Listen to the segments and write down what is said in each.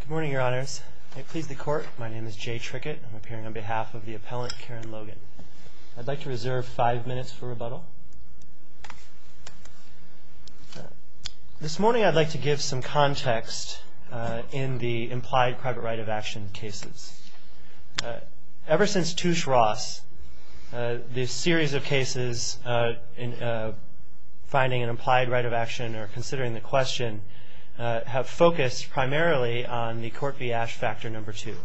Good morning, your honors. I please the court. My name is Jay Trickett. I'm appearing on behalf of the appellant, Karen Logan. I'd like to reserve five minutes for rebuttal. This morning, I'd like to give some context in the implied private right of action cases. Ever since Touche Ross, the series of cases finding an implied right of action or considering the question have focused primarily on the Court v. Ash Factor No. 2,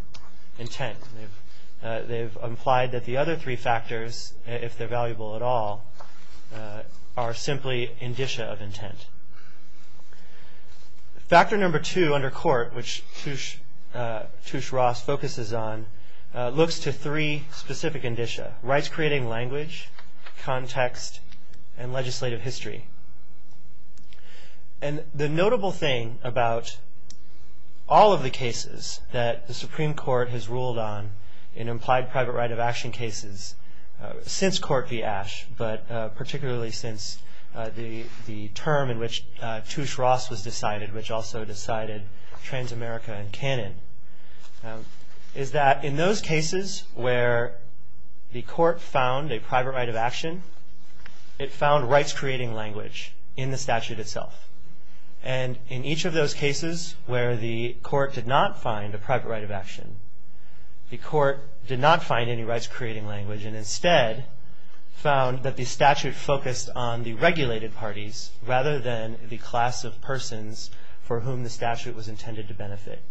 intent. They've implied that the other three factors, if they're valuable at all, are simply indicia of intent. Factor No. 2 under court, which Touche Ross focuses on, looks to three specific indicia. Rights creating language, context, and legislative history. And the notable thing about all of the cases that the Supreme Court has ruled on in implied private right of action cases since Court v. Ash, but particularly since the term in which Touche Ross was decided, which also decided Transamerica in canon, is that in those cases where the Court found a private right of action, it found rights creating language in the statute itself. And in each of those cases where the Court did not find a private right of action, the Court did not find any rights creating language and instead found that the statute focused on the regulated parties rather than the class of persons for whom the statute was intended to benefit.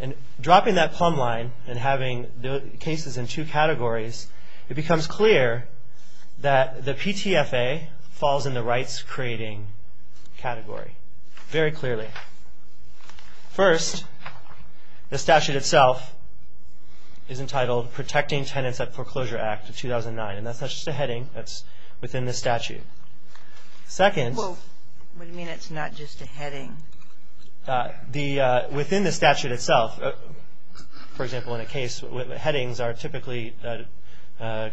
And dropping that plumb line and having cases in two categories, it becomes clear that the PTFA falls in the rights creating category very clearly. First, the statute itself is entitled Protecting Tenants at Foreclosure Act of 2009, and that's not just a heading. That's within the statute. Second... Well, what do you mean it's not just a heading? Within the statute itself, for example, in a case where headings are typically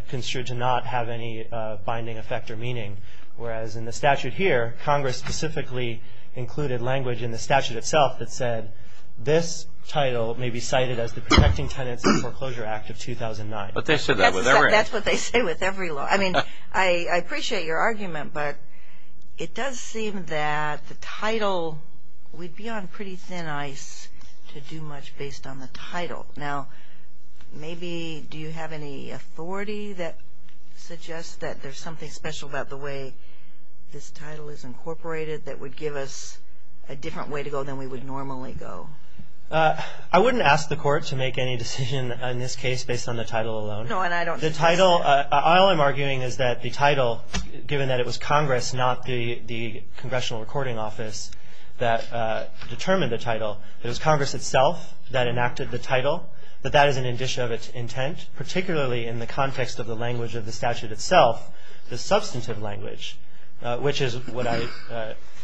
construed to not have any binding effect or meaning, whereas in the statute here, Congress specifically included language in the statute itself that said, this title may be cited as the Protecting Tenants at Foreclosure Act of 2009. But they said that with every law. That's what they say with every law. I mean, I appreciate your argument, but it does seem that the title, we'd be on pretty thin ice to do much based on the title. Now, maybe, do you have any authority that suggests that there's something special about the way this title is incorporated that would give us a different way to go than we would normally go? I wouldn't ask the Court to make any decision in this case based on the title alone. No, and I don't... The title, all I'm arguing is that the title, given that it was Congress, not the Congressional Recording Office, that determined the title. It was Congress itself that enacted the title, but that is an addition of its intent, particularly in the context of the language of the statute itself, the substantive language, which is what I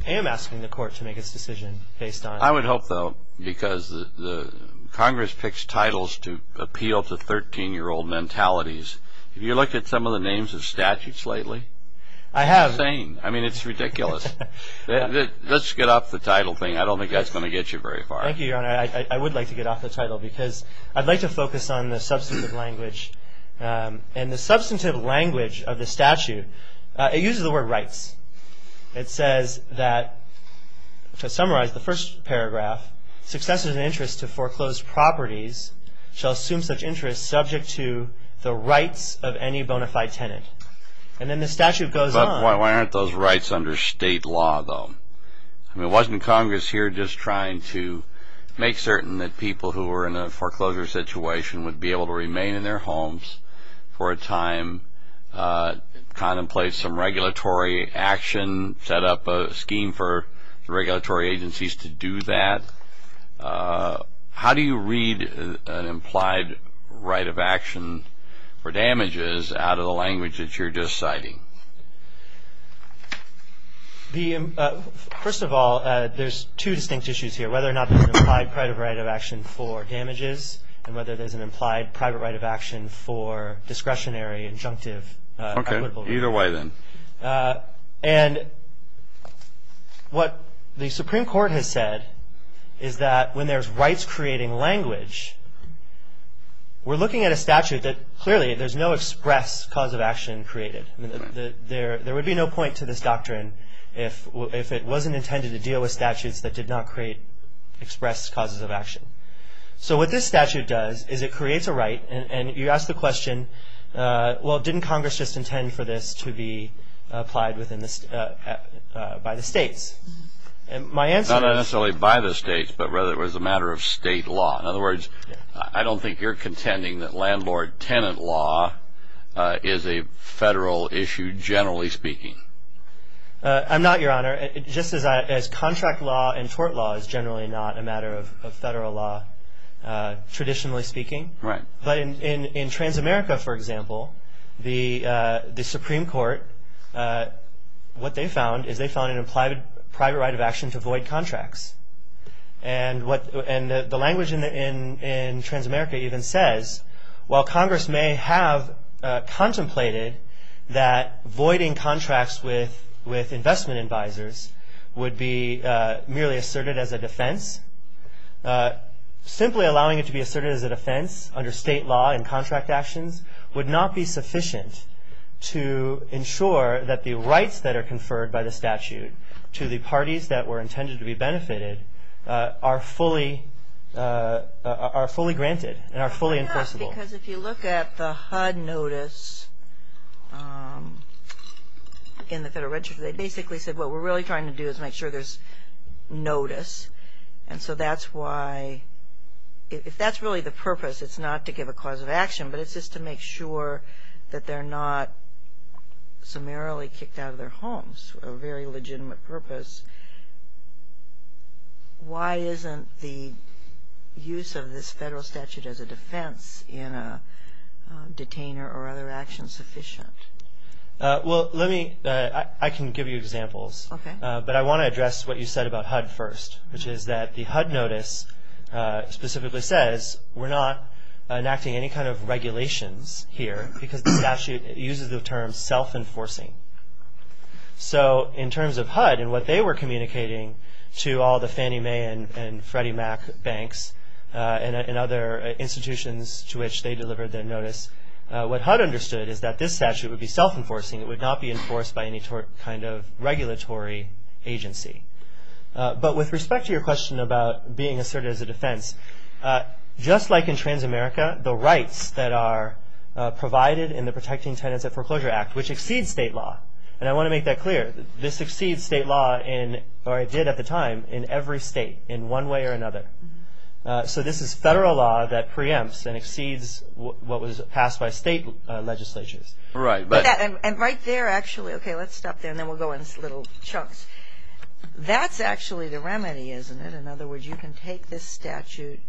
am asking the Court to make its decision based on. I would hope, though, because Congress picks titles to appeal to 13-year-old mentalities. Have you looked at some of the names of statutes lately? I have. It's insane. I mean, it's ridiculous. Let's get off the title thing. I don't think that's going to get you very far. Thank you, Your Honor. I would like to get off the title because I'd like to focus on the substantive language. And the substantive language of the statute, it uses the word rights. It says that, to summarize the first paragraph, successors of interest to foreclosed properties shall assume such interest subject to the rights of any bona fide tenant. And then the statute goes on... But why aren't those rights under state law, though? I mean, wasn't Congress here just trying to make certain that people who were in a foreclosure situation would be able to remain in their homes for a time, contemplate some regulatory action, set up a scheme for the regulatory agencies to do that? How do you read an implied right of action for damages out of the language that you're just citing? First of all, there's two distinct issues here, whether or not there's an implied private right of action for damages and whether there's an implied private right of action for discretionary, injunctive... Okay. Either way, then. And what the Supreme Court has said is that when there's rights-creating language, we're looking at a statute that clearly there's no express cause of action created. There would be no point to this doctrine if it wasn't intended to deal with statutes that did not express causes of action. So what this statute does is it creates a right, and you ask the question, well, didn't Congress just intend for this to be applied by the states? Not necessarily by the states, but rather it was a matter of state law. In other words, I don't think you're contending that landlord-tenant law is a federal issue, generally speaking. I'm not, Your Honor. Just as contract law and tort law is generally not a matter of federal law, traditionally speaking. But in Transamerica, for example, the Supreme Court, what they found is they found an implied private right of action to void contracts. And the language in Transamerica even says, while Congress may have contemplated that voiding contracts with investment advisors would be merely asserted as a defense, simply allowing it to be asserted as a defense under state law and contract actions would not be sufficient to ensure that the rights that are conferred by the statute to the parties that were intended to be benefited are fully granted and are fully enforceable. Because if you look at the HUD notice in the Federal Register, they basically said what we're really trying to do is make sure there's notice. And so that's why, if that's really the purpose, it's not to give a cause of action, but it's just to make sure that they're not summarily kicked out of their homes for a very legitimate purpose. Why isn't the use of this federal statute as a defense in a detainer or other action sufficient? Well, let me, I can give you examples. Okay. But I want to address what you said about HUD first, which is that the HUD notice specifically says we're not enacting any kind of regulations here because the statute uses the term self-enforcing. So in terms of HUD and what they were communicating to all the Fannie Mae and Freddie Mac banks and other institutions to which they delivered their notice, what HUD understood is that this statute would be self-enforcing. It would not be enforced by any kind of regulatory agency. But with respect to your question about being asserted as a defense, just like in trans-America, the rights that are provided in the Protecting Tenants at Foreclosure Act, which exceeds state law. And I want to make that clear. This exceeds state law, or it did at the time, in every state in one way or another. So this is federal law that preempts and exceeds what was passed by state legislatures. Right. And right there, actually, okay, let's stop there, and then we'll go into little chunks. That's actually the remedy, isn't it? In other words, you can take this statute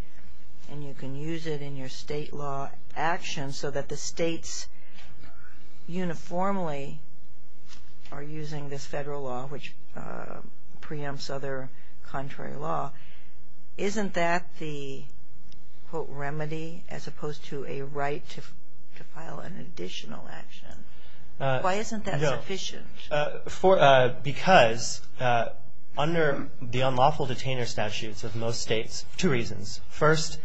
and you can use it in your state law action so that the states uniformly are using this federal law, which preempts other contrary law. Isn't that the, quote, remedy, as opposed to a right to file an additional action? Why isn't that sufficient? Because under the unlawful detainer statutes of most states, two reasons. First,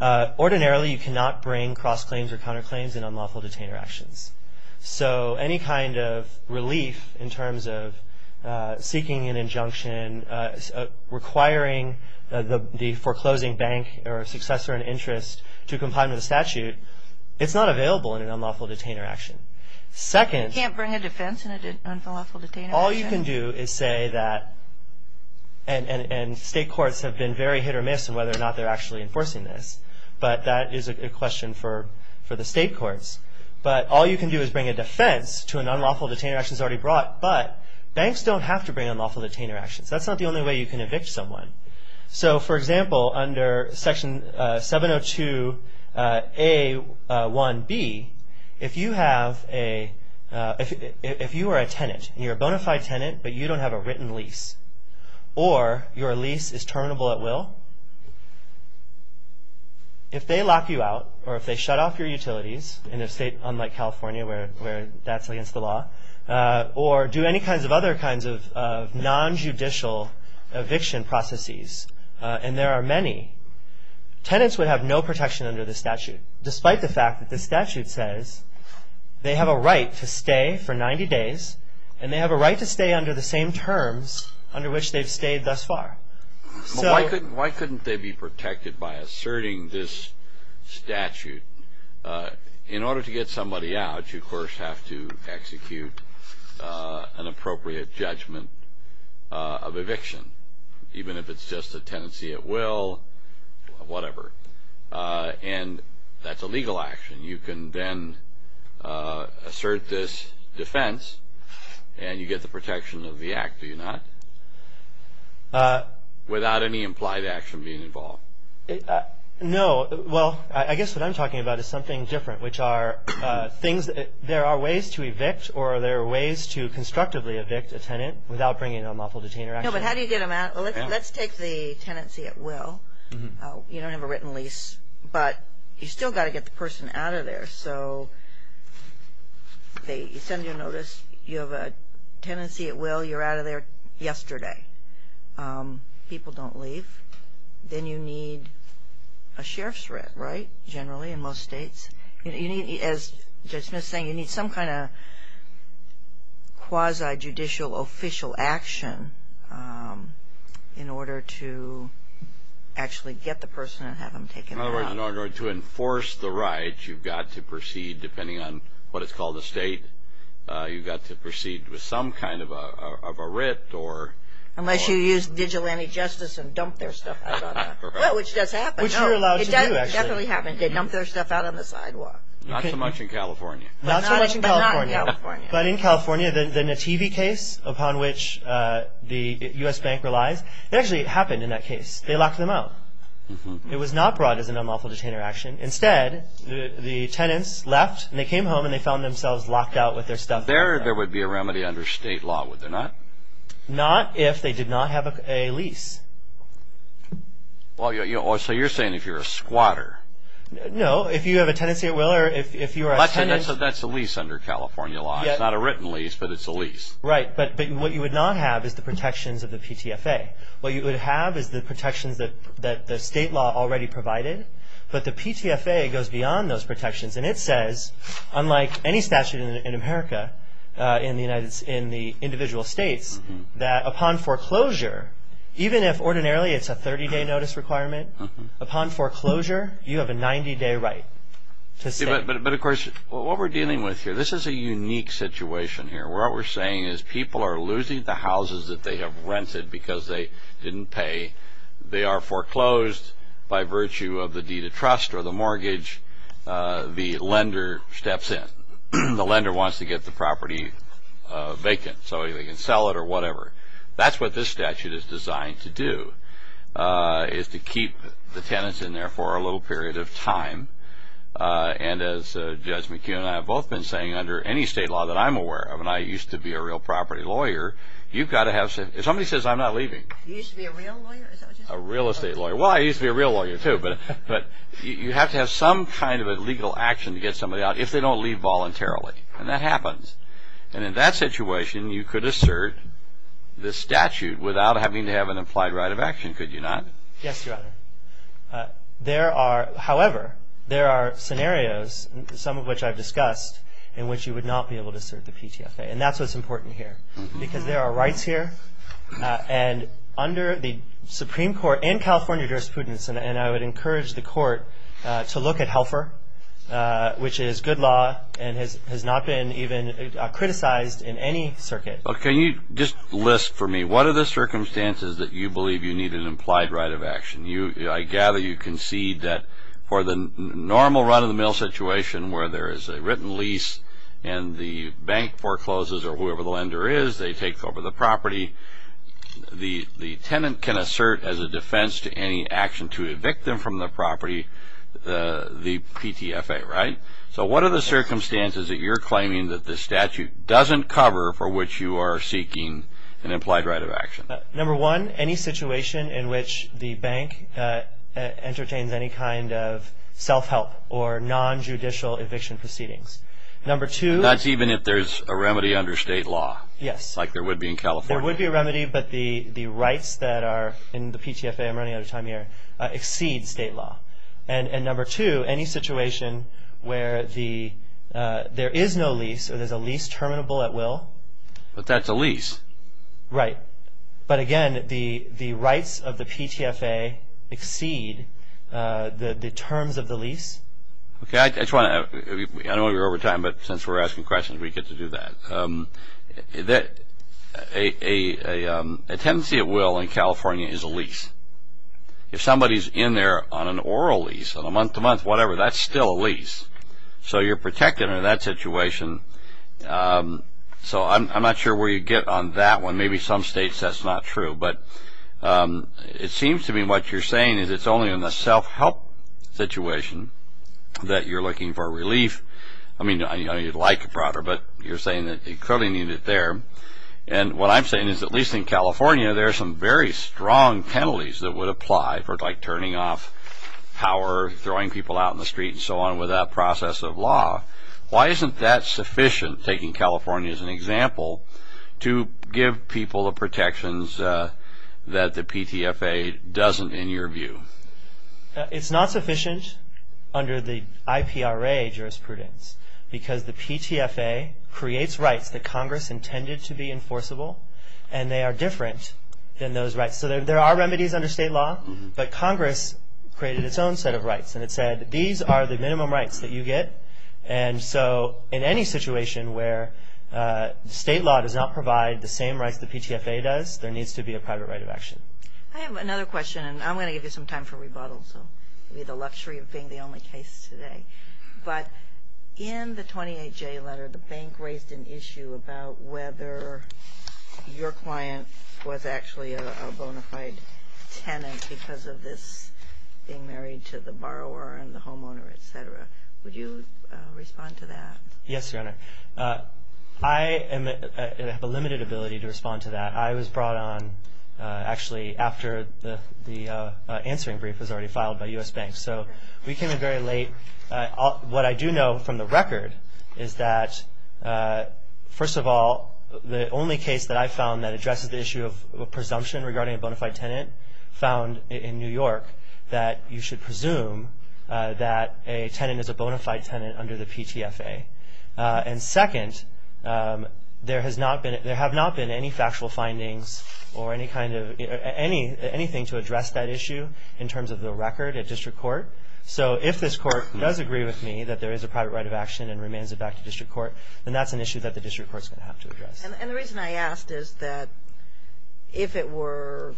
ordinarily you cannot bring cross-claims or counter-claims in unlawful detainer actions. So any kind of relief in terms of seeking an injunction, requiring the foreclosing bank or successor in interest to comply with the statute, it's not available in an unlawful detainer action. You can't bring a defense in an unlawful detainer action? All you can do is say that, and state courts have been very hit or miss in whether or not they're actually enforcing this, but that is a question for the state courts. But all you can do is bring a defense to an unlawful detainer action that's already brought, but banks don't have to bring unlawful detainer actions. That's not the only way you can evict someone. So, for example, under Section 702A1B, if you are a tenant, you're a bona fide tenant, but you don't have a written lease, or your lease is terminable at will, if they lock you out, or if they shut off your utilities in a state unlike California where that's against the law, or do any kinds of other kinds of nonjudicial eviction processes, and there are many, tenants would have no protection under the statute, despite the fact that the statute says they have a right to stay for 90 days, and they have a right to stay under the same terms under which they've stayed thus far. Why couldn't they be protected by asserting this statute? In order to get somebody out, you, of course, have to execute an appropriate judgment of eviction, even if it's just a tenancy at will, whatever. And that's a legal action. You can then assert this defense, and you get the protection of the act, do you not? Without any implied action being involved. No, well, I guess what I'm talking about is something different, which are things that there are ways to evict, or there are ways to constructively evict a tenant without bringing a lawful detainer action. No, but how do you get them out? Well, let's take the tenancy at will. You don't have a written lease, but you still got to get the person out of there, so they send you a notice, you have a tenancy at will, you're out of there yesterday. People don't leave. Then you need a sheriff's writ, right, generally in most states? As Judge Smith's saying, you need some kind of quasi-judicial official action in order to actually get the person and have them taken out. In other words, in order to enforce the right, you've got to proceed, depending on what it's called a state, you've got to proceed with some kind of a writ. Unless you use vigilante justice and dump their stuff out on the sidewalk. Well, which does happen. Which you're allowed to do, actually. It definitely happens. They dump their stuff out on the sidewalk. Not so much in California. Not so much in California. But not in California. But in California, the Nativi case upon which the U.S. Bank relies, it actually happened in that case. They locked them out. It was not brought as an unlawful detainer action. Instead, the tenants left and they came home and they found themselves locked out with their stuff. There would be a remedy under state law, would there not? Not if they did not have a lease. So you're saying if you're a squatter. No, if you have a tenancy at will or if you are a tenant. That's a lease under California law. It's not a written lease, but it's a lease. Right, but what you would not have is the protections of the PTFA. What you would have is the protections that the state law already provided, but the PTFA goes beyond those protections. And it says, unlike any statute in America, in the individual states, that upon foreclosure, even if ordinarily it's a 30-day notice requirement, upon foreclosure you have a 90-day right to stay. But, of course, what we're dealing with here, this is a unique situation here. What we're saying is people are losing the houses that they have rented because they didn't pay. They are foreclosed by virtue of the deed of trust or the mortgage. The lender steps in. The lender wants to get the property vacant so they can sell it or whatever. That's what this statute is designed to do, is to keep the tenants in there for a little period of time. And as Judge McKeon and I have both been saying under any state law that I'm aware of, and I used to be a real property lawyer, you've got to have something. If somebody says, I'm not leaving. You used to be a real lawyer? A real estate lawyer. Well, I used to be a real lawyer, too. But you have to have some kind of a legal action to get somebody out if they don't leave voluntarily. And that happens. And in that situation, you could assert the statute without having to have an implied right of action, could you not? Yes, Your Honor. However, there are scenarios, some of which I've discussed, in which you would not be able to assert the PTFA. And that's what's important here because there are rights here and under the Supreme Court and California jurisprudence, and I would encourage the court to look at Helfer, which is good law and has not been even criticized in any circuit. Can you just list for me, what are the circumstances that you believe you need an implied right of action? I gather you concede that for the normal run-of-the-mill situation where there is a written lease and the bank forecloses, or whoever the lender is, they take over the property, the tenant can assert as a defense to any action to evict them from the property the PTFA, right? So what are the circumstances that you're claiming that the statute doesn't cover for which you are seeking an implied right of action? Number one, any situation in which the bank entertains any kind of self-help or non-judicial eviction proceedings. That's even if there's a remedy under state law? Yes. Like there would be in California? There would be a remedy, but the rights that are in the PTFA, I'm running out of time here, exceed state law. And number two, any situation where there is no lease or there's a lease terminable at will. But that's a lease. Right. But again, the rights of the PTFA exceed the terms of the lease. Okay. I know we're over time, but since we're asking questions, we get to do that. A tendency at will in California is a lease. If somebody's in there on an oral lease, on a month-to-month, whatever, that's still a lease. So you're protected under that situation. So I'm not sure where you get on that one. Maybe some states that's not true. But it seems to me what you're saying is it's only in the self-help situation that you're looking for relief. I mean, I know you'd like it broader, but you're saying that you clearly need it there. And what I'm saying is at least in California, there are some very strong penalties that would apply for, like, turning off power, throwing people out in the street and so on with that process of law. Why isn't that sufficient, taking California as an example, to give people the protections that the PTFA doesn't in your view? It's not sufficient under the IPRA jurisprudence, because the PTFA creates rights that Congress intended to be enforceable, and they are different than those rights. So there are remedies under state law, but Congress created its own set of rights. And it said, these are the minimum rights that you get. And so in any situation where state law does not provide the same rights the PTFA does, there needs to be a private right of action. I have another question, and I'm going to give you some time for rebuttal, so maybe the luxury of being the only case today. But in the 28J letter, the bank raised an issue about whether your client was actually a bona fide tenant because of this being married to the borrower and the homeowner, et cetera. Would you respond to that? Yes, Your Honor. I have a limited ability to respond to that. I was brought on actually after the answering brief was already filed by U.S. banks. So we came in very late. What I do know from the record is that, first of all, the only case that I found that addresses the issue of presumption regarding a bona fide tenant found in New York that you should presume that a tenant is a bona fide tenant under the PTFA. And second, there have not been any factual findings or anything to address that issue in terms of the record at district court. So if this court does agree with me that there is a private right of action and remains it back to district court, then that's an issue that the district court is going to have to address. And the reason I asked is that if it were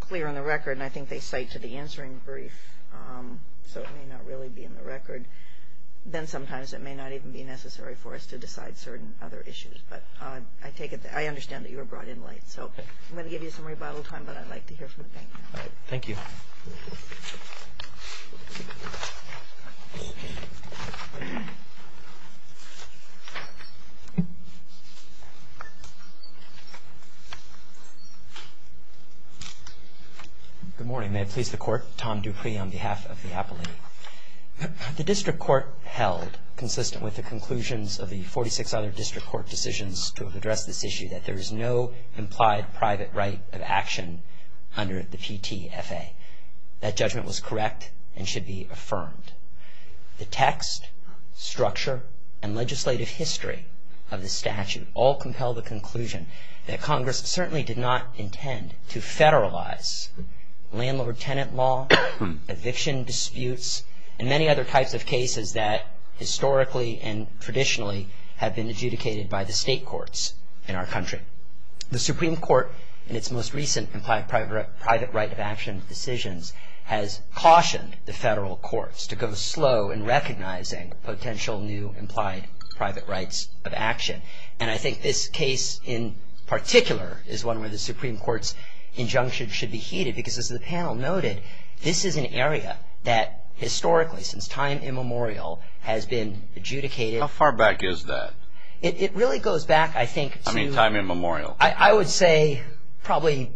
clear on the record, and I think they cite to the answering brief so it may not really be in the record, then sometimes it may not even be necessary for us to decide certain other issues. But I understand that you were brought in late. So I'm going to give you some rebuttal time, but I'd like to hear from the bank. All right. Thank you. Good morning. May it please the court. Tom Dupree on behalf of the appellate. The district court held, consistent with the conclusions of the 46 other district court decisions to address this issue, that there is no implied private right of action under the PTFA. That judgment was correct and should be affirmed. The text, structure, and legislative history of the statute all compel the conclusion that Congress certainly did not intend to federalize landlord-tenant law, eviction disputes, and many other types of cases that historically and traditionally have been adjudicated by the state courts in our country. The Supreme Court, in its most recent implied private right of action decisions, has cautioned the federal courts to go slow in recognizing potential new implied private rights of action. And I think this case in particular is one where the Supreme Court's injunction should be heeded, because as the panel noted, this is an area that historically, since time immemorial, has been adjudicated. How far back is that? It really goes back, I think, to... I mean, time immemorial. I would say probably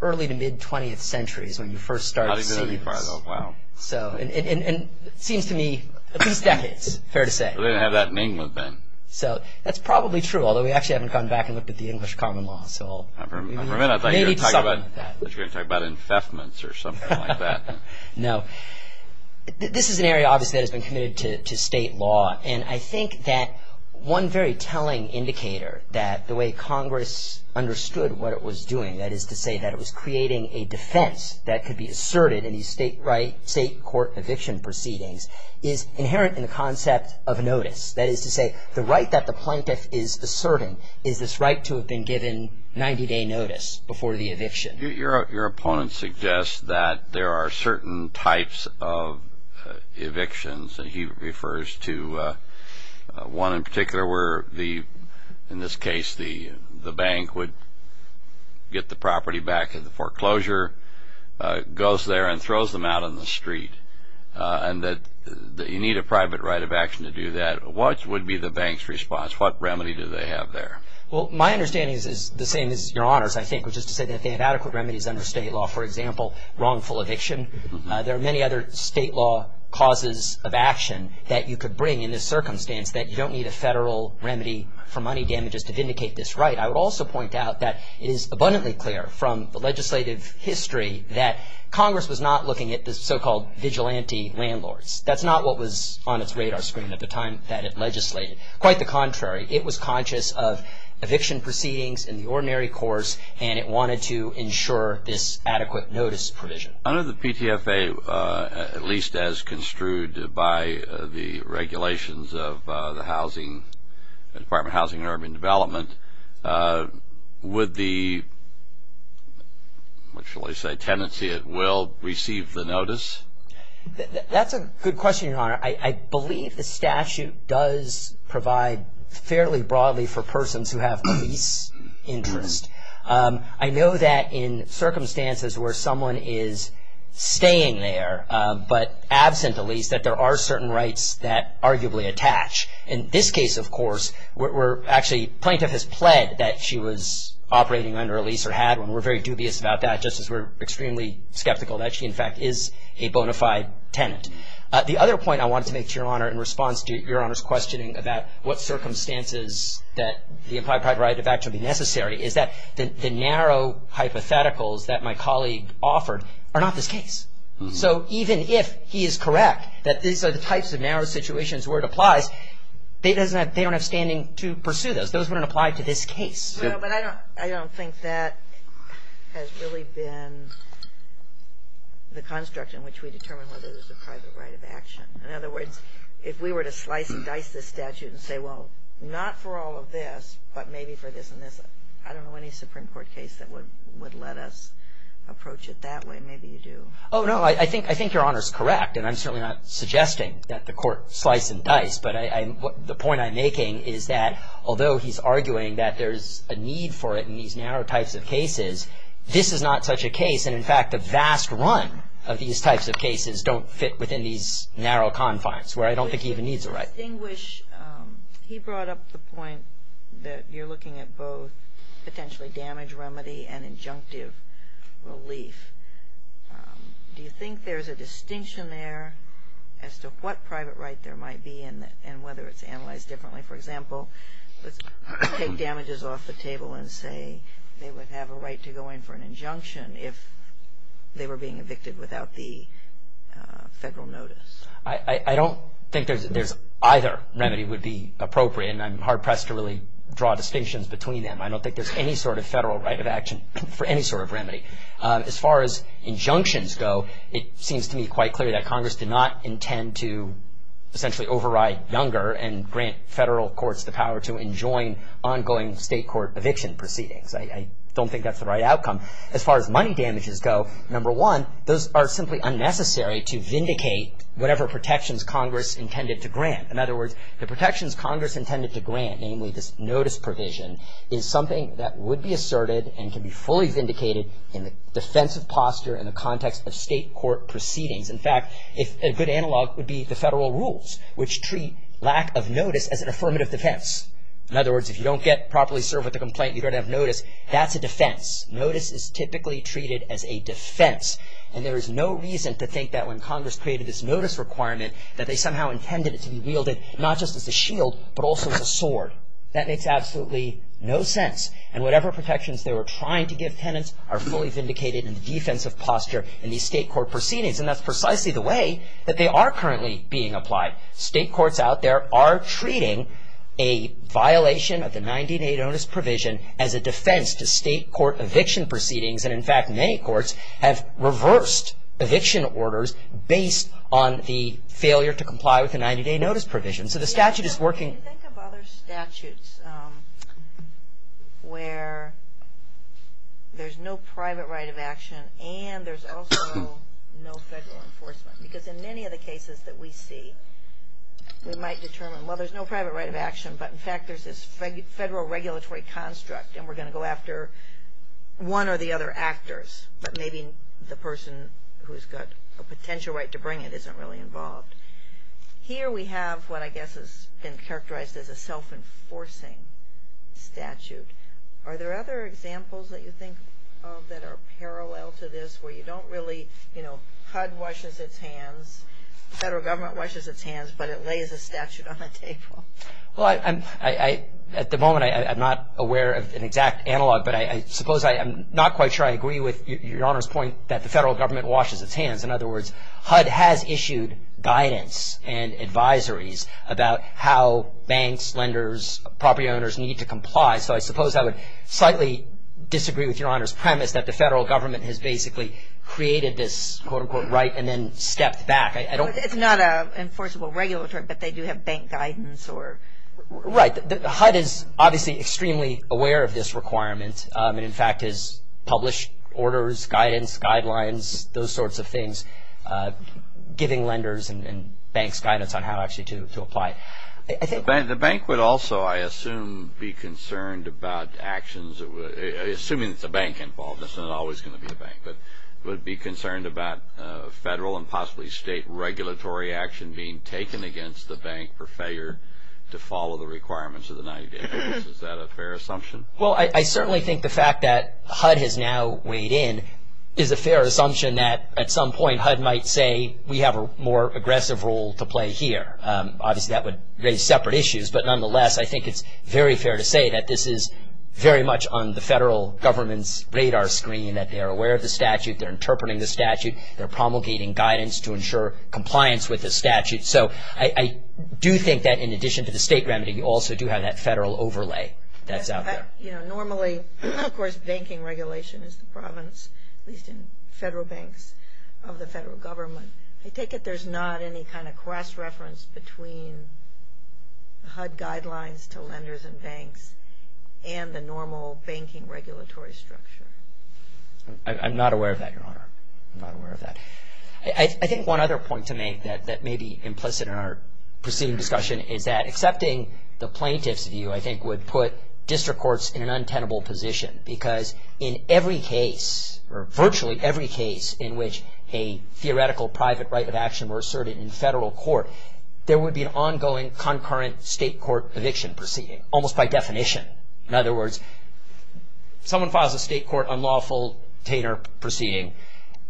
early to mid-20th century is when you first start seeing this. Wow. And it seems to me, at least decades, fair to say. They didn't have that in England then. So that's probably true, although we actually haven't gone back and looked at the English common law. For a minute I thought you were going to talk about infestments or something like that. No. This is an area, obviously, that has been committed to state law, and I think that one very telling indicator that the way Congress understood what it was doing, that is to say that it was creating a defense that could be asserted in these state court eviction proceedings, is inherent in the concept of notice. That is to say, the right that the plaintiff is asserting is this right to have been given 90-day notice before the eviction. Your opponent suggests that there are certain types of evictions, and he refers to one in particular where, in this case, the bank would get the property back in the foreclosure, goes there and throws them out on the street, and that you need a private right of action to do that. What would be the bank's response? What remedy do they have there? Well, my understanding is the same as your Honor's, I think, which is to say that they have adequate remedies under state law. For example, wrongful eviction. There are many other state law causes of action that you could bring in this circumstance that you don't need a federal remedy for money damages to vindicate this right. I would also point out that it is abundantly clear from the legislative history that Congress was not looking at the so-called vigilante landlords. That's not what was on its radar screen at the time that it legislated. Quite the contrary. It was conscious of eviction proceedings in the ordinary course, and it wanted to ensure this adequate notice provision. Under the PTFA, at least as construed by the regulations of the Department of Housing and Urban Development, would the, what shall I say, tenancy at will receive the notice? That's a good question, Your Honor. I believe the statute does provide fairly broadly for persons who have lease interest. I know that in circumstances where someone is staying there but absent a lease, that there are certain rights that arguably attach. In this case, of course, we're actually, plaintiff has pled that she was operating under a lease or had one. We're very dubious about that just as we're extremely skeptical that she, in fact, is a bona fide tenant. The other point I wanted to make to Your Honor in response to Your Honor's questioning about what circumstances that the implied private right of action would be necessary is that the narrow hypotheticals that my colleague offered are not this case. So even if he is correct that these are the types of narrow situations where it applies, they don't have standing to pursue those. Those wouldn't apply to this case. Well, but I don't think that has really been the construct in which we determine whether there's a private right of action. In other words, if we were to slice and dice this statute and say, well, not for all of this, but maybe for this and this, I don't know any Supreme Court case that would let us approach it that way. Maybe you do. Oh, no. I think Your Honor's correct. And I'm certainly not suggesting that the Court slice and dice. But the point I'm making is that although he's arguing that there's a need for it in these narrow types of cases, this is not such a case. And, in fact, a vast run of these types of cases don't fit within these narrow confines where I don't think he even needs a right. He brought up the point that you're looking at both potentially damage remedy and injunctive relief. Do you think there's a distinction there as to what private right there might be and whether it's analyzed differently? For example, let's take damages off the table and say they would have a right to go in for an injunction if they were being evicted without the federal notice. I don't think there's either remedy would be appropriate, and I'm hard-pressed to really draw distinctions between them. I don't think there's any sort of federal right of action for any sort of remedy. As far as injunctions go, it seems to me quite clear that Congress did not intend to essentially override younger and grant federal courts the power to enjoin ongoing state court eviction proceedings. I don't think that's the right outcome. As far as money damages go, number one, those are simply unnecessary to vindicate whatever protections Congress intended to grant. In other words, the protections Congress intended to grant, namely this notice provision, is something that would be asserted and can be fully vindicated in the defense of posture in the context of state court proceedings. In fact, a good analog would be the federal rules, which treat lack of notice as an affirmative defense. In other words, if you don't get properly served with a complaint, you don't have notice. That's a defense. Notice is typically treated as a defense, and there is no reason to think that when Congress created this notice requirement that they somehow intended it to be wielded not just as a shield but also as a sword. That makes absolutely no sense. And whatever protections they were trying to give tenants are fully vindicated in the defense of posture in these state court proceedings. And that's precisely the way that they are currently being applied. State courts out there are treating a violation of the 90-day notice provision as a defense to state court eviction proceedings. And in fact, many courts have reversed eviction orders based on the failure to comply with the 90-day notice provision. So the statute is working. Yeah, but when you think of other statutes where there's no private right of action and there's also no federal enforcement, because in many of the cases that we see, we might determine, well, there's no private right of action, but in fact there's this federal regulatory construct, and we're going to go after one or the other actors, but maybe the person who's got a potential right to bring it isn't really involved. Here we have what I guess has been characterized as a self-enforcing statute. Are there other examples that you think of that are parallel to this where you don't really, you know, HUD washes its hands, the federal government washes its hands, but it lays a statute on the table? Well, at the moment I'm not aware of an exact analog, but I suppose I'm not quite sure I agree with Your Honor's point that the federal government washes its hands. In other words, HUD has issued guidance and advisories about how banks, lenders, property owners need to comply. So I suppose I would slightly disagree with Your Honor's premise that the federal government has basically created this quote-unquote right and then stepped back. It's not an enforceable regulatory, but they do have bank guidance. Right. HUD is obviously extremely aware of this requirement and, in fact, has published orders, guidance, guidelines, those sorts of things, giving lenders and banks guidance on how actually to apply. The bank would also, I assume, be concerned about actions. Assuming it's a bank involved, it's not always going to be a bank, but it would be concerned about federal and possibly state regulatory action being taken against the bank for failure to follow the requirements of the 90-day notice. Is that a fair assumption? Well, I certainly think the fact that HUD has now weighed in is a fair assumption that at some point HUD might say we have a more aggressive role to play here. Obviously, that would raise separate issues, but nonetheless, I think it's very fair to say that this is very much on the federal government's radar screen, that they are aware of the statute, they're interpreting the statute, they're promulgating guidance to ensure compliance with the statute. So I do think that, in addition to the state remedy, you also do have that federal overlay that's out there. Normally, of course, banking regulation is the province, at least in federal banks of the federal government. I take it there's not any kind of cross-reference between HUD guidelines to lenders and banks and the normal banking regulatory structure. I'm not aware of that, Your Honor. I'm not aware of that. I think one other point to make that may be implicit in our proceeding discussion is that accepting the plaintiff's view, I think, would put district courts in an untenable position because in every case, or virtually every case, in which a theoretical private right of action were asserted in federal court, there would be an ongoing concurrent state court eviction proceeding, almost by definition. In other words, someone files a state court unlawful tainter proceeding.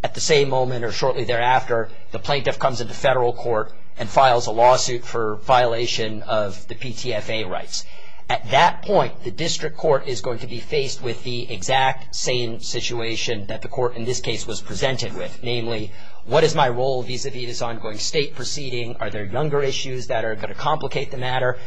At the same moment or shortly thereafter, the plaintiff comes into federal court and files a lawsuit for violation of the PTFA rights. At that point, the district court is going to be faced with the exact same situation that the court in this case was presented with, namely, what is my role vis-a-vis this ongoing state proceeding? Are there younger issues that are going to complicate the matter?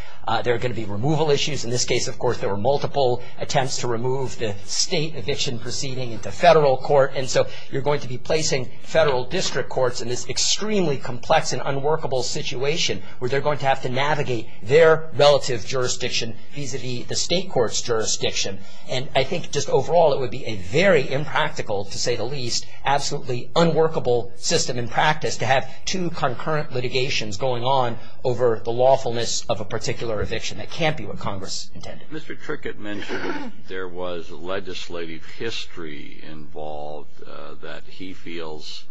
There are going to be removal issues. In this case, of course, there were multiple attempts to remove the state eviction proceeding into federal court, and so you're going to be placing federal district courts in this extremely complex and unworkable situation where they're going to have to navigate their relative jurisdiction vis-a-vis the state court's jurisdiction. And I think just overall it would be a very impractical, to say the least, absolutely unworkable system in practice to have two concurrent litigations going on over the lawfulness of a particular eviction that can't be what Congress intended. Mr. Trickett mentioned there was legislative history involved that he feels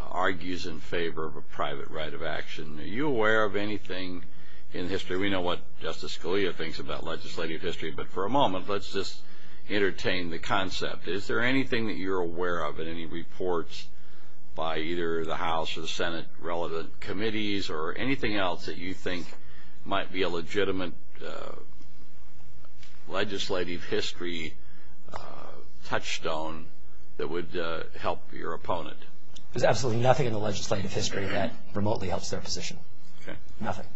argues in favor of a private right of action. Are you aware of anything in history? We know what Justice Scalia thinks about legislative history, but for a moment, let's just entertain the concept. Is there anything that you're aware of in any reports by either the House or the Senate-relevant committees or anything else that you think might be a legitimate legislative history touchstone that would help your opponent? There's absolutely nothing in the legislative history that remotely helps their position. Okay. Nothing.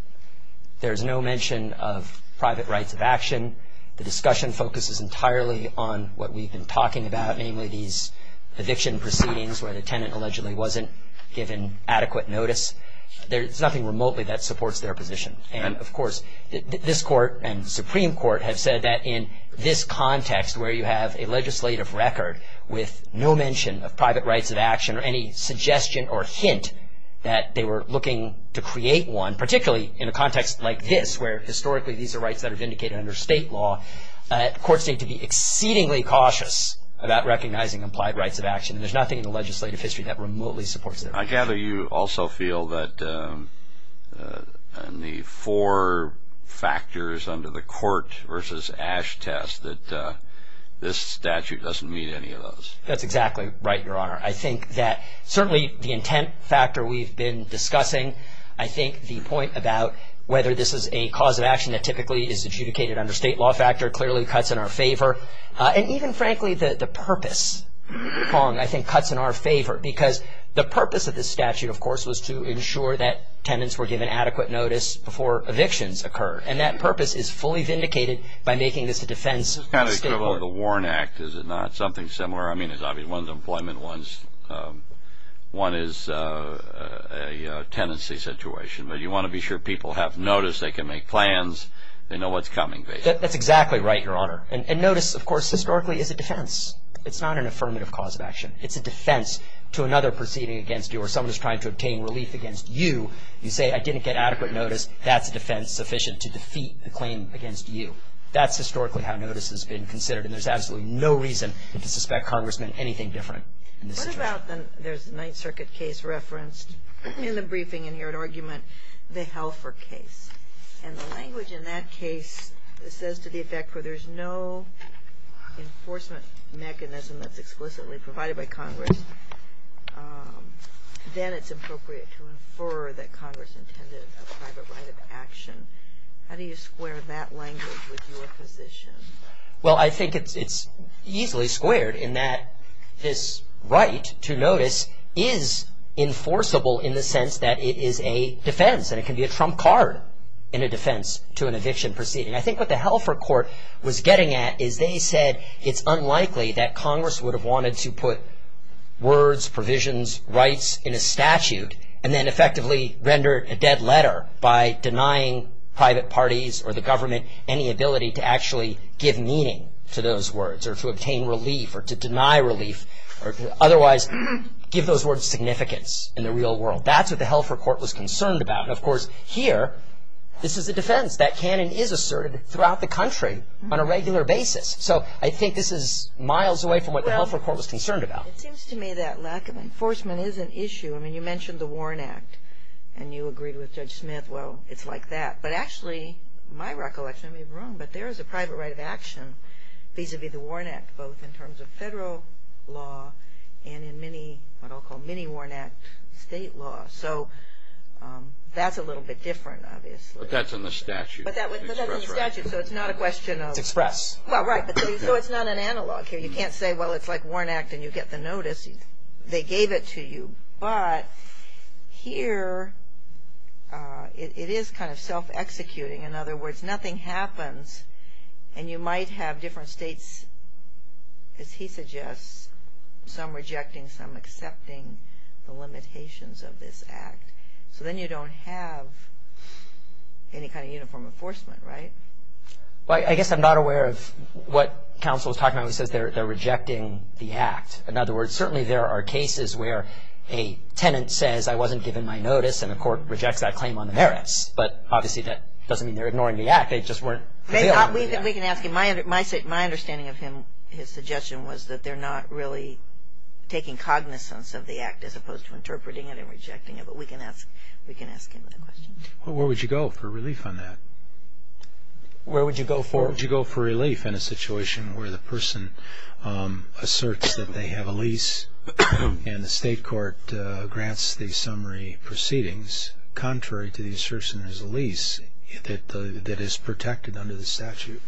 There's no mention of private rights of action. The discussion focuses entirely on what we've been talking about, namely these eviction proceedings where the tenant allegedly wasn't given adequate notice. There's nothing remotely that supports their position. And, of course, this Court and the Supreme Court have said that in this context where you have a legislative record with no mention of private rights of action or any suggestion or hint that they were looking to create one, particularly in a context like this where historically these are rights that are vindicated under state law, courts need to be exceedingly cautious about recognizing implied rights of action. There's nothing in the legislative history that remotely supports their position. I gather you also feel that in the four factors under the court versus ash test that this statute doesn't meet any of those. That's exactly right, Your Honor. I think that certainly the intent factor we've been discussing, I think the point about whether this is a cause of action that typically is adjudicated under state law factor clearly cuts in our favor. And even, frankly, the purpose, Kong, I think cuts in our favor because the purpose of this statute, of course, was to ensure that tenants were given adequate notice before evictions occur. And that purpose is fully vindicated by making this a defense of state law. It's kind of equivalent to the Warren Act, is it not? Something similar. I mean, it's obvious. One's employment, one is a tenancy situation. But you want to be sure people have notice. They can make plans. They know what's coming. That's exactly right, Your Honor. And notice, of course, historically is a defense. It's not an affirmative cause of action. It's a defense to another proceeding against you or someone who's trying to obtain relief against you. You say, I didn't get adequate notice. That's a defense sufficient to defeat the claim against you. That's historically how notice has been considered. And there's absolutely no reason to suspect congressmen anything different in this situation. There's a Ninth Circuit case referenced in the briefing in your argument, the Helfer case. And the language in that case says to the effect, for there's no enforcement mechanism that's explicitly provided by congress, then it's appropriate to infer that congress intended a private right of action. How do you square that language with your position? Well, I think it's easily squared in that this right to notice is enforceable in the sense that it is a defense. And it can be a trump card in a defense to an eviction proceeding. I think what the Helfer court was getting at is they said it's unlikely that congress would have wanted to put words, provisions, rights in a statute and then effectively render a dead letter by denying private parties or the government any ability to actually give meaning to those words or to obtain relief or to deny relief or otherwise give those words significance in the real world. That's what the Helfer court was concerned about. And, of course, here, this is a defense. That canon is asserted throughout the country on a regular basis. So I think this is miles away from what the Helfer court was concerned about. It seems to me that lack of enforcement is an issue. I mean, you mentioned the Warren Act and you agreed with Judge Smith. Well, it's like that. But actually, my recollection, I may be wrong, but there is a private right of action vis-a-vis the Warren Act both in terms of federal law and in many, what I'll call many Warren Act state laws. So that's a little bit different, obviously. But that's in the statute. But that's in the statute, so it's not a question of. It's express. Well, right. So it's not an analog here. You can't say, well, it's like Warren Act and you get the notice. They gave it to you. But here it is kind of self-executing. In other words, nothing happens and you might have different states, as he suggests, some rejecting, some accepting the limitations of this act. So then you don't have any kind of uniform enforcement, right? Well, I guess I'm not aware of what counsel is talking about when he says they're rejecting the act. In other words, certainly there are cases where a tenant says, I wasn't given my notice and the court rejects that claim on the merits. But obviously that doesn't mean they're ignoring the act. They just weren't. We can ask him. My understanding of his suggestion was that they're not really taking cognizance of the act as opposed to interpreting it and rejecting it. But we can ask him the question. Well, where would you go for relief on that? Where would you go for? Where would you go for relief in a situation where the person asserts that they have a lease and the state court grants the summary proceedings contrary to the assertion there's a lease that is protected under the statute?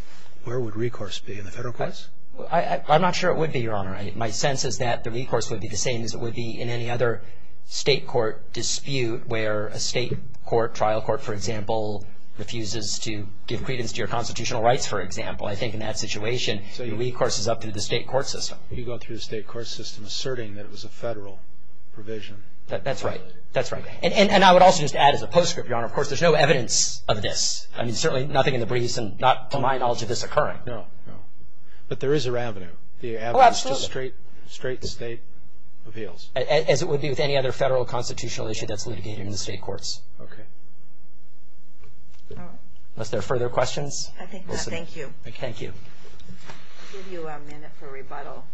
Where would recourse be in the federal courts? I'm not sure it would be, Your Honor. My sense is that the recourse would be the same as it would be in any other state court dispute where a state court, trial court, for example, refuses to give credence to your constitutional rights, for example. I think in that situation the recourse is up to the state court system. You go through the state court system asserting that it was a federal provision. That's right. That's right. And I would also just add as a postscript, Your Honor, of course, there's no evidence of this. I mean, certainly nothing in the briefs and not to my knowledge of this occurring. No, no. But there is a revenue. Oh, absolutely. The avenue is just straight state appeals. As it would be with any other federal constitutional issue that's litigated in the state courts. Okay. All right. Unless there are further questions. I think not. Thank you. Thank you. I'll give you a minute for rebuttal.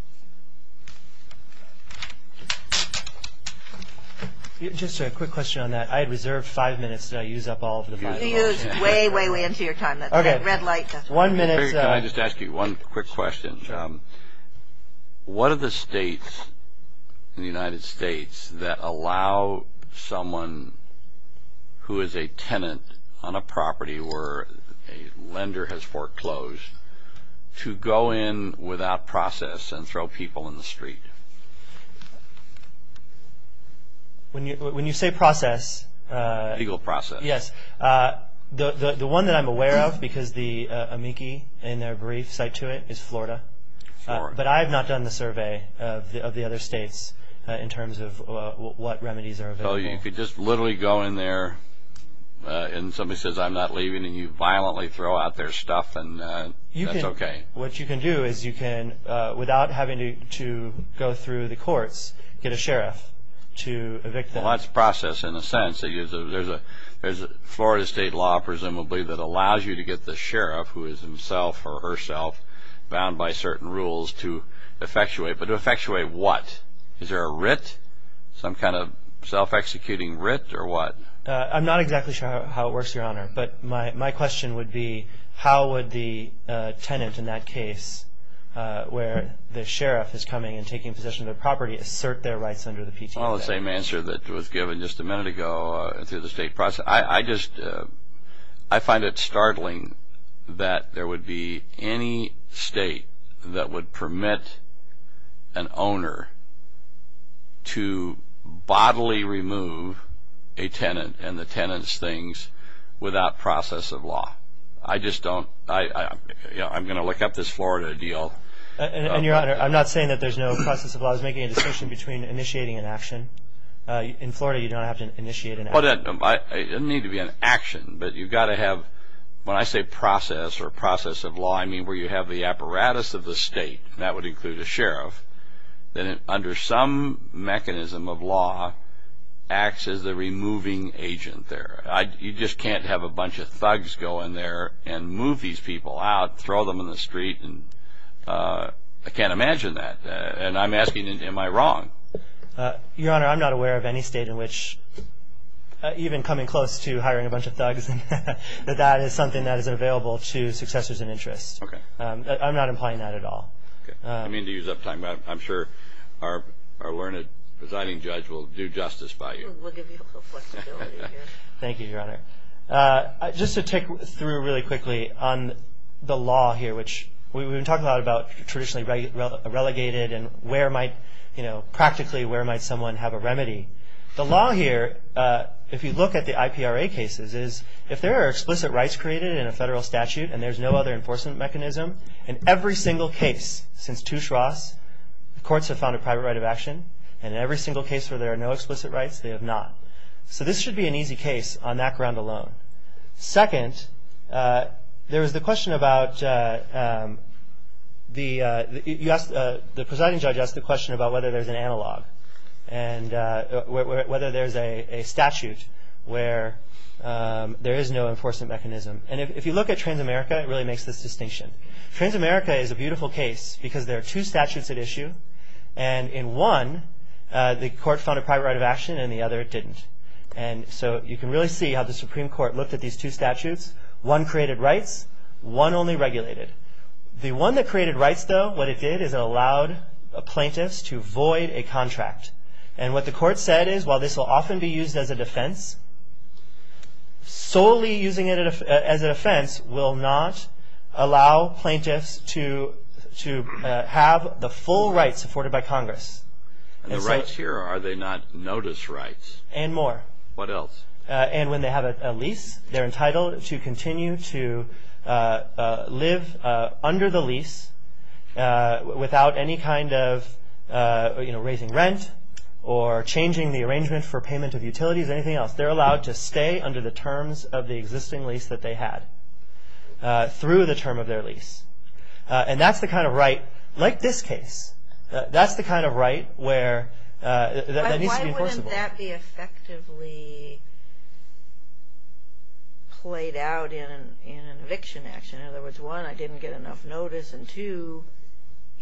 Just a quick question on that. I had reserved five minutes that I use up all of the time. You use way, way, way into your time. Okay. Red light. One minute. Can I just ask you one quick question? Sure. What are the states in the United States that allow someone who is a tenant on a property where a lender has foreclosed to go in without process and throw people in the street? When you say process. Legal process. Yes. The one that I'm aware of because the amici in their brief cite to it is Florida. But I have not done the survey of the other states in terms of what remedies are available. If you just literally go in there and somebody says, I'm not leaving and you violently throw out their stuff, that's okay. What you can do is you can, without having to go through the courts, get a sheriff to evict them. Well, that's process in a sense. There's a Florida state law presumably that allows you to get the sheriff who is himself or herself bound by certain rules to effectuate. But to effectuate what? Is there a writ? Some kind of self-executing writ or what? I'm not exactly sure how it works, Your Honor. But my question would be how would the tenant in that case where the sheriff is coming and taking possession of the property assert their rights under the PTA Act? Well, the same answer that was given just a minute ago through the state process. I find it startling that there would be any state that would permit an owner to bodily remove a tenant and the tenant's things without process of law. I just don't. I'm going to look up this Florida deal. And, Your Honor, I'm not saying that there's no process of law. I was making a distinction between initiating an action. In Florida, you don't have to initiate an action. It doesn't need to be an action. But you've got to have, when I say process or process of law, I mean where you have the apparatus of the state, and that would include a sheriff, that under some mechanism of law acts as the removing agent there. You just can't have a bunch of thugs go in there and move these people out, throw them in the street. I can't imagine that. And I'm asking, am I wrong? Your Honor, I'm not aware of any state in which even coming close to hiring a bunch of thugs, that that is something that is available to successors in interest. I'm not implying that at all. I mean to use up time, but I'm sure our learned presiding judge will do justice by you. We'll give you a flexibility here. Thank you, Your Honor. Just to take through really quickly on the law here, which we've been talking a lot about traditionally relegated and practically where might someone have a remedy. The law here, if you look at the IPRA cases, is if there are explicit rights created in a federal statute and there's no other enforcement mechanism, in every single case since Touche Ross, the courts have found a private right of action. And in every single case where there are no explicit rights, they have not. So this should be an easy case on that ground alone. Second, there was the question about the presiding judge asked the question about whether there's an analog and whether there's a statute where there is no enforcement mechanism. And if you look at Transamerica, it really makes this distinction. Transamerica is a beautiful case because there are two statutes at issue. And in one, the court found a private right of action and the other didn't. And so you can really see how the Supreme Court looked at these two statutes. One created rights. One only regulated. The one that created rights, though, what it did is it allowed plaintiffs to void a contract. And what the court said is while this will often be used as a defense, solely using it as a defense will not allow plaintiffs to have the full rights afforded by Congress. And the rights here, are they not notice rights? And more. What else? And when they have a lease, they're entitled to continue to live under the lease without any kind of raising rent or changing the arrangement for payment of utilities or anything else. They're allowed to stay under the terms of the existing lease that they had through the term of their lease. And that's the kind of right, like this case, that's the kind of right that needs to be enforceable. Why wouldn't that be effectively played out in an eviction action? In other words, one, I didn't get enough notice. And two,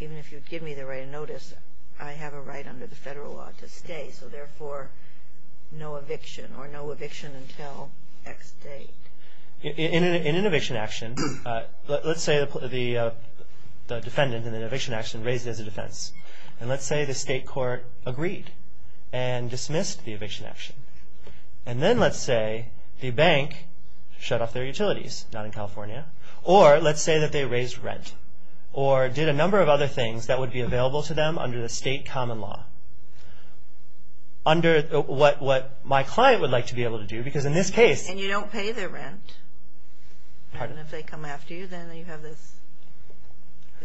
even if you give me the right of notice, I have a right under the federal law to stay. So therefore, no eviction or no eviction until X date. In an eviction action, let's say the defendant in an eviction action raised it as a defense. And let's say the state court agreed and dismissed the eviction action. And then let's say the bank shut off their utilities, not in California. Or let's say that they raised rent or did a number of other things that would be available to them under the state common law. Under what my client would like to be able to do, because in this case... And you don't pay their rent. Pardon? And if they come after you, then you have this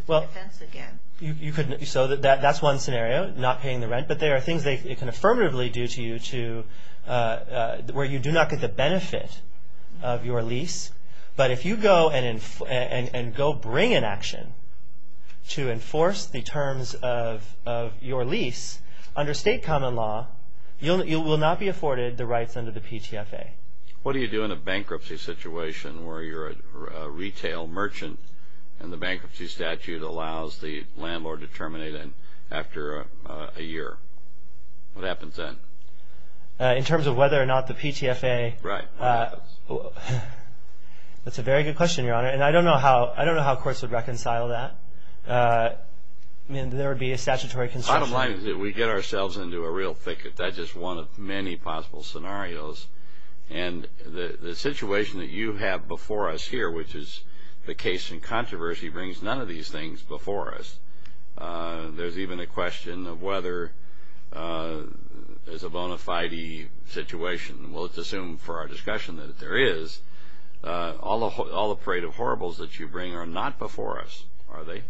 defense again. So that's one scenario, not paying the rent. But there are things they can affirmatively do to you where you do not get the benefit of your lease. But if you go and go bring an action to enforce the terms of your lease under state common law, you will not be afforded the rights under the PTFA. What do you do in a bankruptcy situation where you're a retail merchant and the bankruptcy statute allows the landlord to terminate after a year? What happens then? In terms of whether or not the PTFA... Right. That's a very good question, Your Honor. And I don't know how courts would reconcile that. I mean, there would be a statutory concern. I don't mind that we get ourselves into a real thicket. That's just one of many possible scenarios. And the situation that you have before us here, which is the case in controversy, brings none of these things before us. There's even a question of whether there's a bona fide situation. We'll just assume for our discussion that there is. All the parade of horribles that you bring are not before us, are they?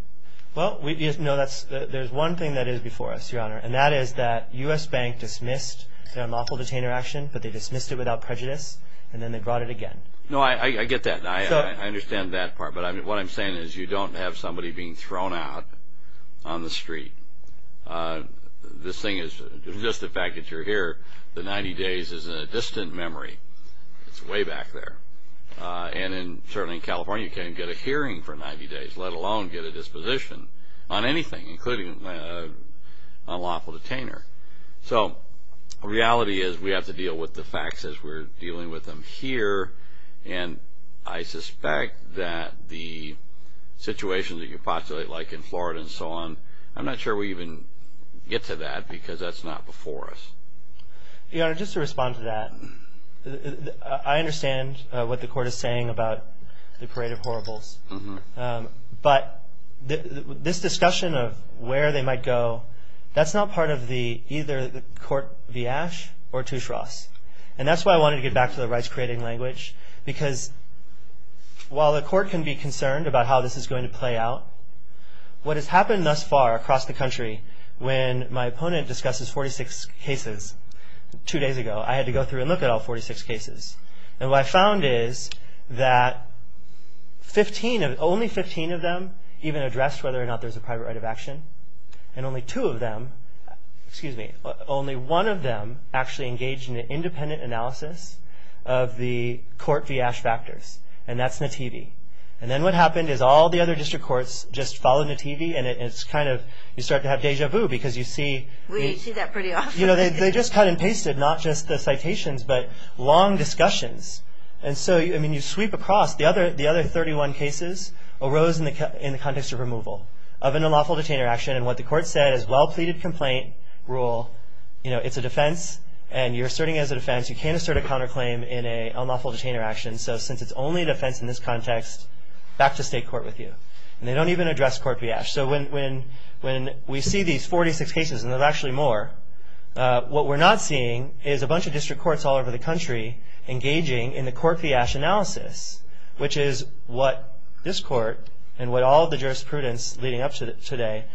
Well, there's one thing that is before us, Your Honor, and that is that U.S. Bank dismissed their unlawful detainer action, but they dismissed it without prejudice, and then they brought it again. No, I get that. I understand that part. But what I'm saying is you don't have somebody being thrown out on the street. This thing is just the fact that you're here, the 90 days is a distant memory. It's way back there. And certainly in California, you can't get a hearing for 90 days, let alone get a disposition on anything, including an unlawful detainer. So the reality is we have to deal with the facts as we're dealing with them here, and I suspect that the situation that you postulate, like in Florida and so on, I'm not sure we even get to that because that's not before us. Your Honor, just to respond to that, I understand what the Court is saying about the parade of horribles, but this discussion of where they might go, that's not part of either the court viash or tushras. And that's why I wanted to get back to the rights-creating language, because while the Court can be concerned about how this is going to play out, what has happened thus far across the country, when my opponent discusses 46 cases two days ago, I had to go through and look at all 46 cases. And what I found is that only 15 of them even addressed whether or not there's a private right of action, and only two of them, excuse me, only one of them actually engaged in an independent analysis of the court viash factors, and that's Nativi. And then what happened is all the other district courts just followed Nativi, and it's kind of, you start to have deja vu because you see... We see that pretty often. They just cut and pasted, not just the citations, but long discussions. And so, I mean, you sweep across. The other 31 cases arose in the context of removal of an unlawful detainer action, and what the Court said is, well-pleaded complaint rule, you know, it's a defense, and you're asserting it as a defense. You can't assert a counterclaim in an unlawful detainer action. So since it's only a defense in this context, back to state court with you. And they don't even address court viash. So when we see these 46 cases, and there's actually more, what we're not seeing is a bunch of district courts all over the country engaging in the court viash analysis, which is what this court and what all of the jurisprudence leading up to today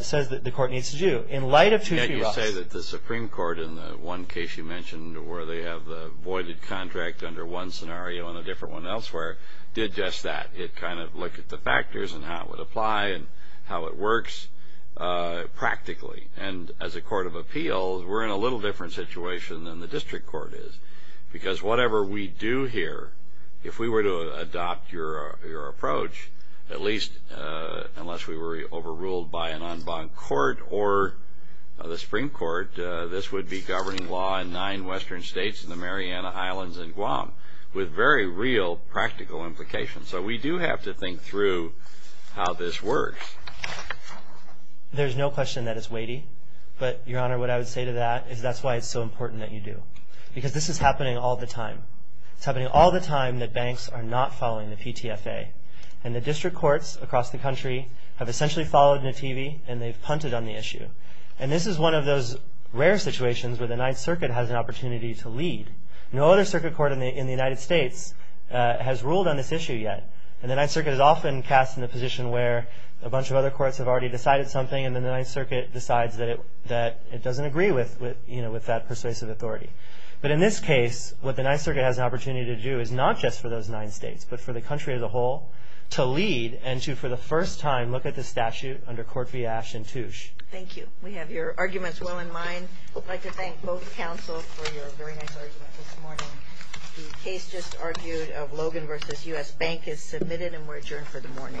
says that the court needs to do. In light of 2P-RUS. Yet you say that the Supreme Court in the one case you mentioned where they have the voided contract under one scenario and a different one elsewhere did just that. It kind of looked at the factors and how it would apply and how it works practically. And as a court of appeals, we're in a little different situation than the district court is because whatever we do here, if we were to adopt your approach, at least unless we were overruled by an en banc court or the Supreme Court, this would be governing law in nine western states and the Mariana Islands and Guam with very real practical implications. So we do have to think through how this works. There's no question that it's weighty. But, Your Honor, what I would say to that is that's why it's so important that you do. Because this is happening all the time. It's happening all the time that banks are not following the PTFA. And the district courts across the country have essentially followed Nativi and they've punted on the issue. And this is one of those rare situations where the Ninth Circuit has an opportunity to lead. No other circuit court in the United States has ruled on this issue yet. And the Ninth Circuit is often cast in the position where a bunch of other courts have already decided something and then the Ninth Circuit decides that it doesn't agree with that persuasive authority. But in this case, what the Ninth Circuit has an opportunity to do is not just for those nine states but for the country as a whole to lead and to, for the first time, look at the statute under Court v. Ash and Touche. Thank you. We have your arguments well in mind. I'd like to thank both counsel for your very nice argument this morning. The case just argued of Logan v. U.S. Bank is submitted and we're adjourned for the morning.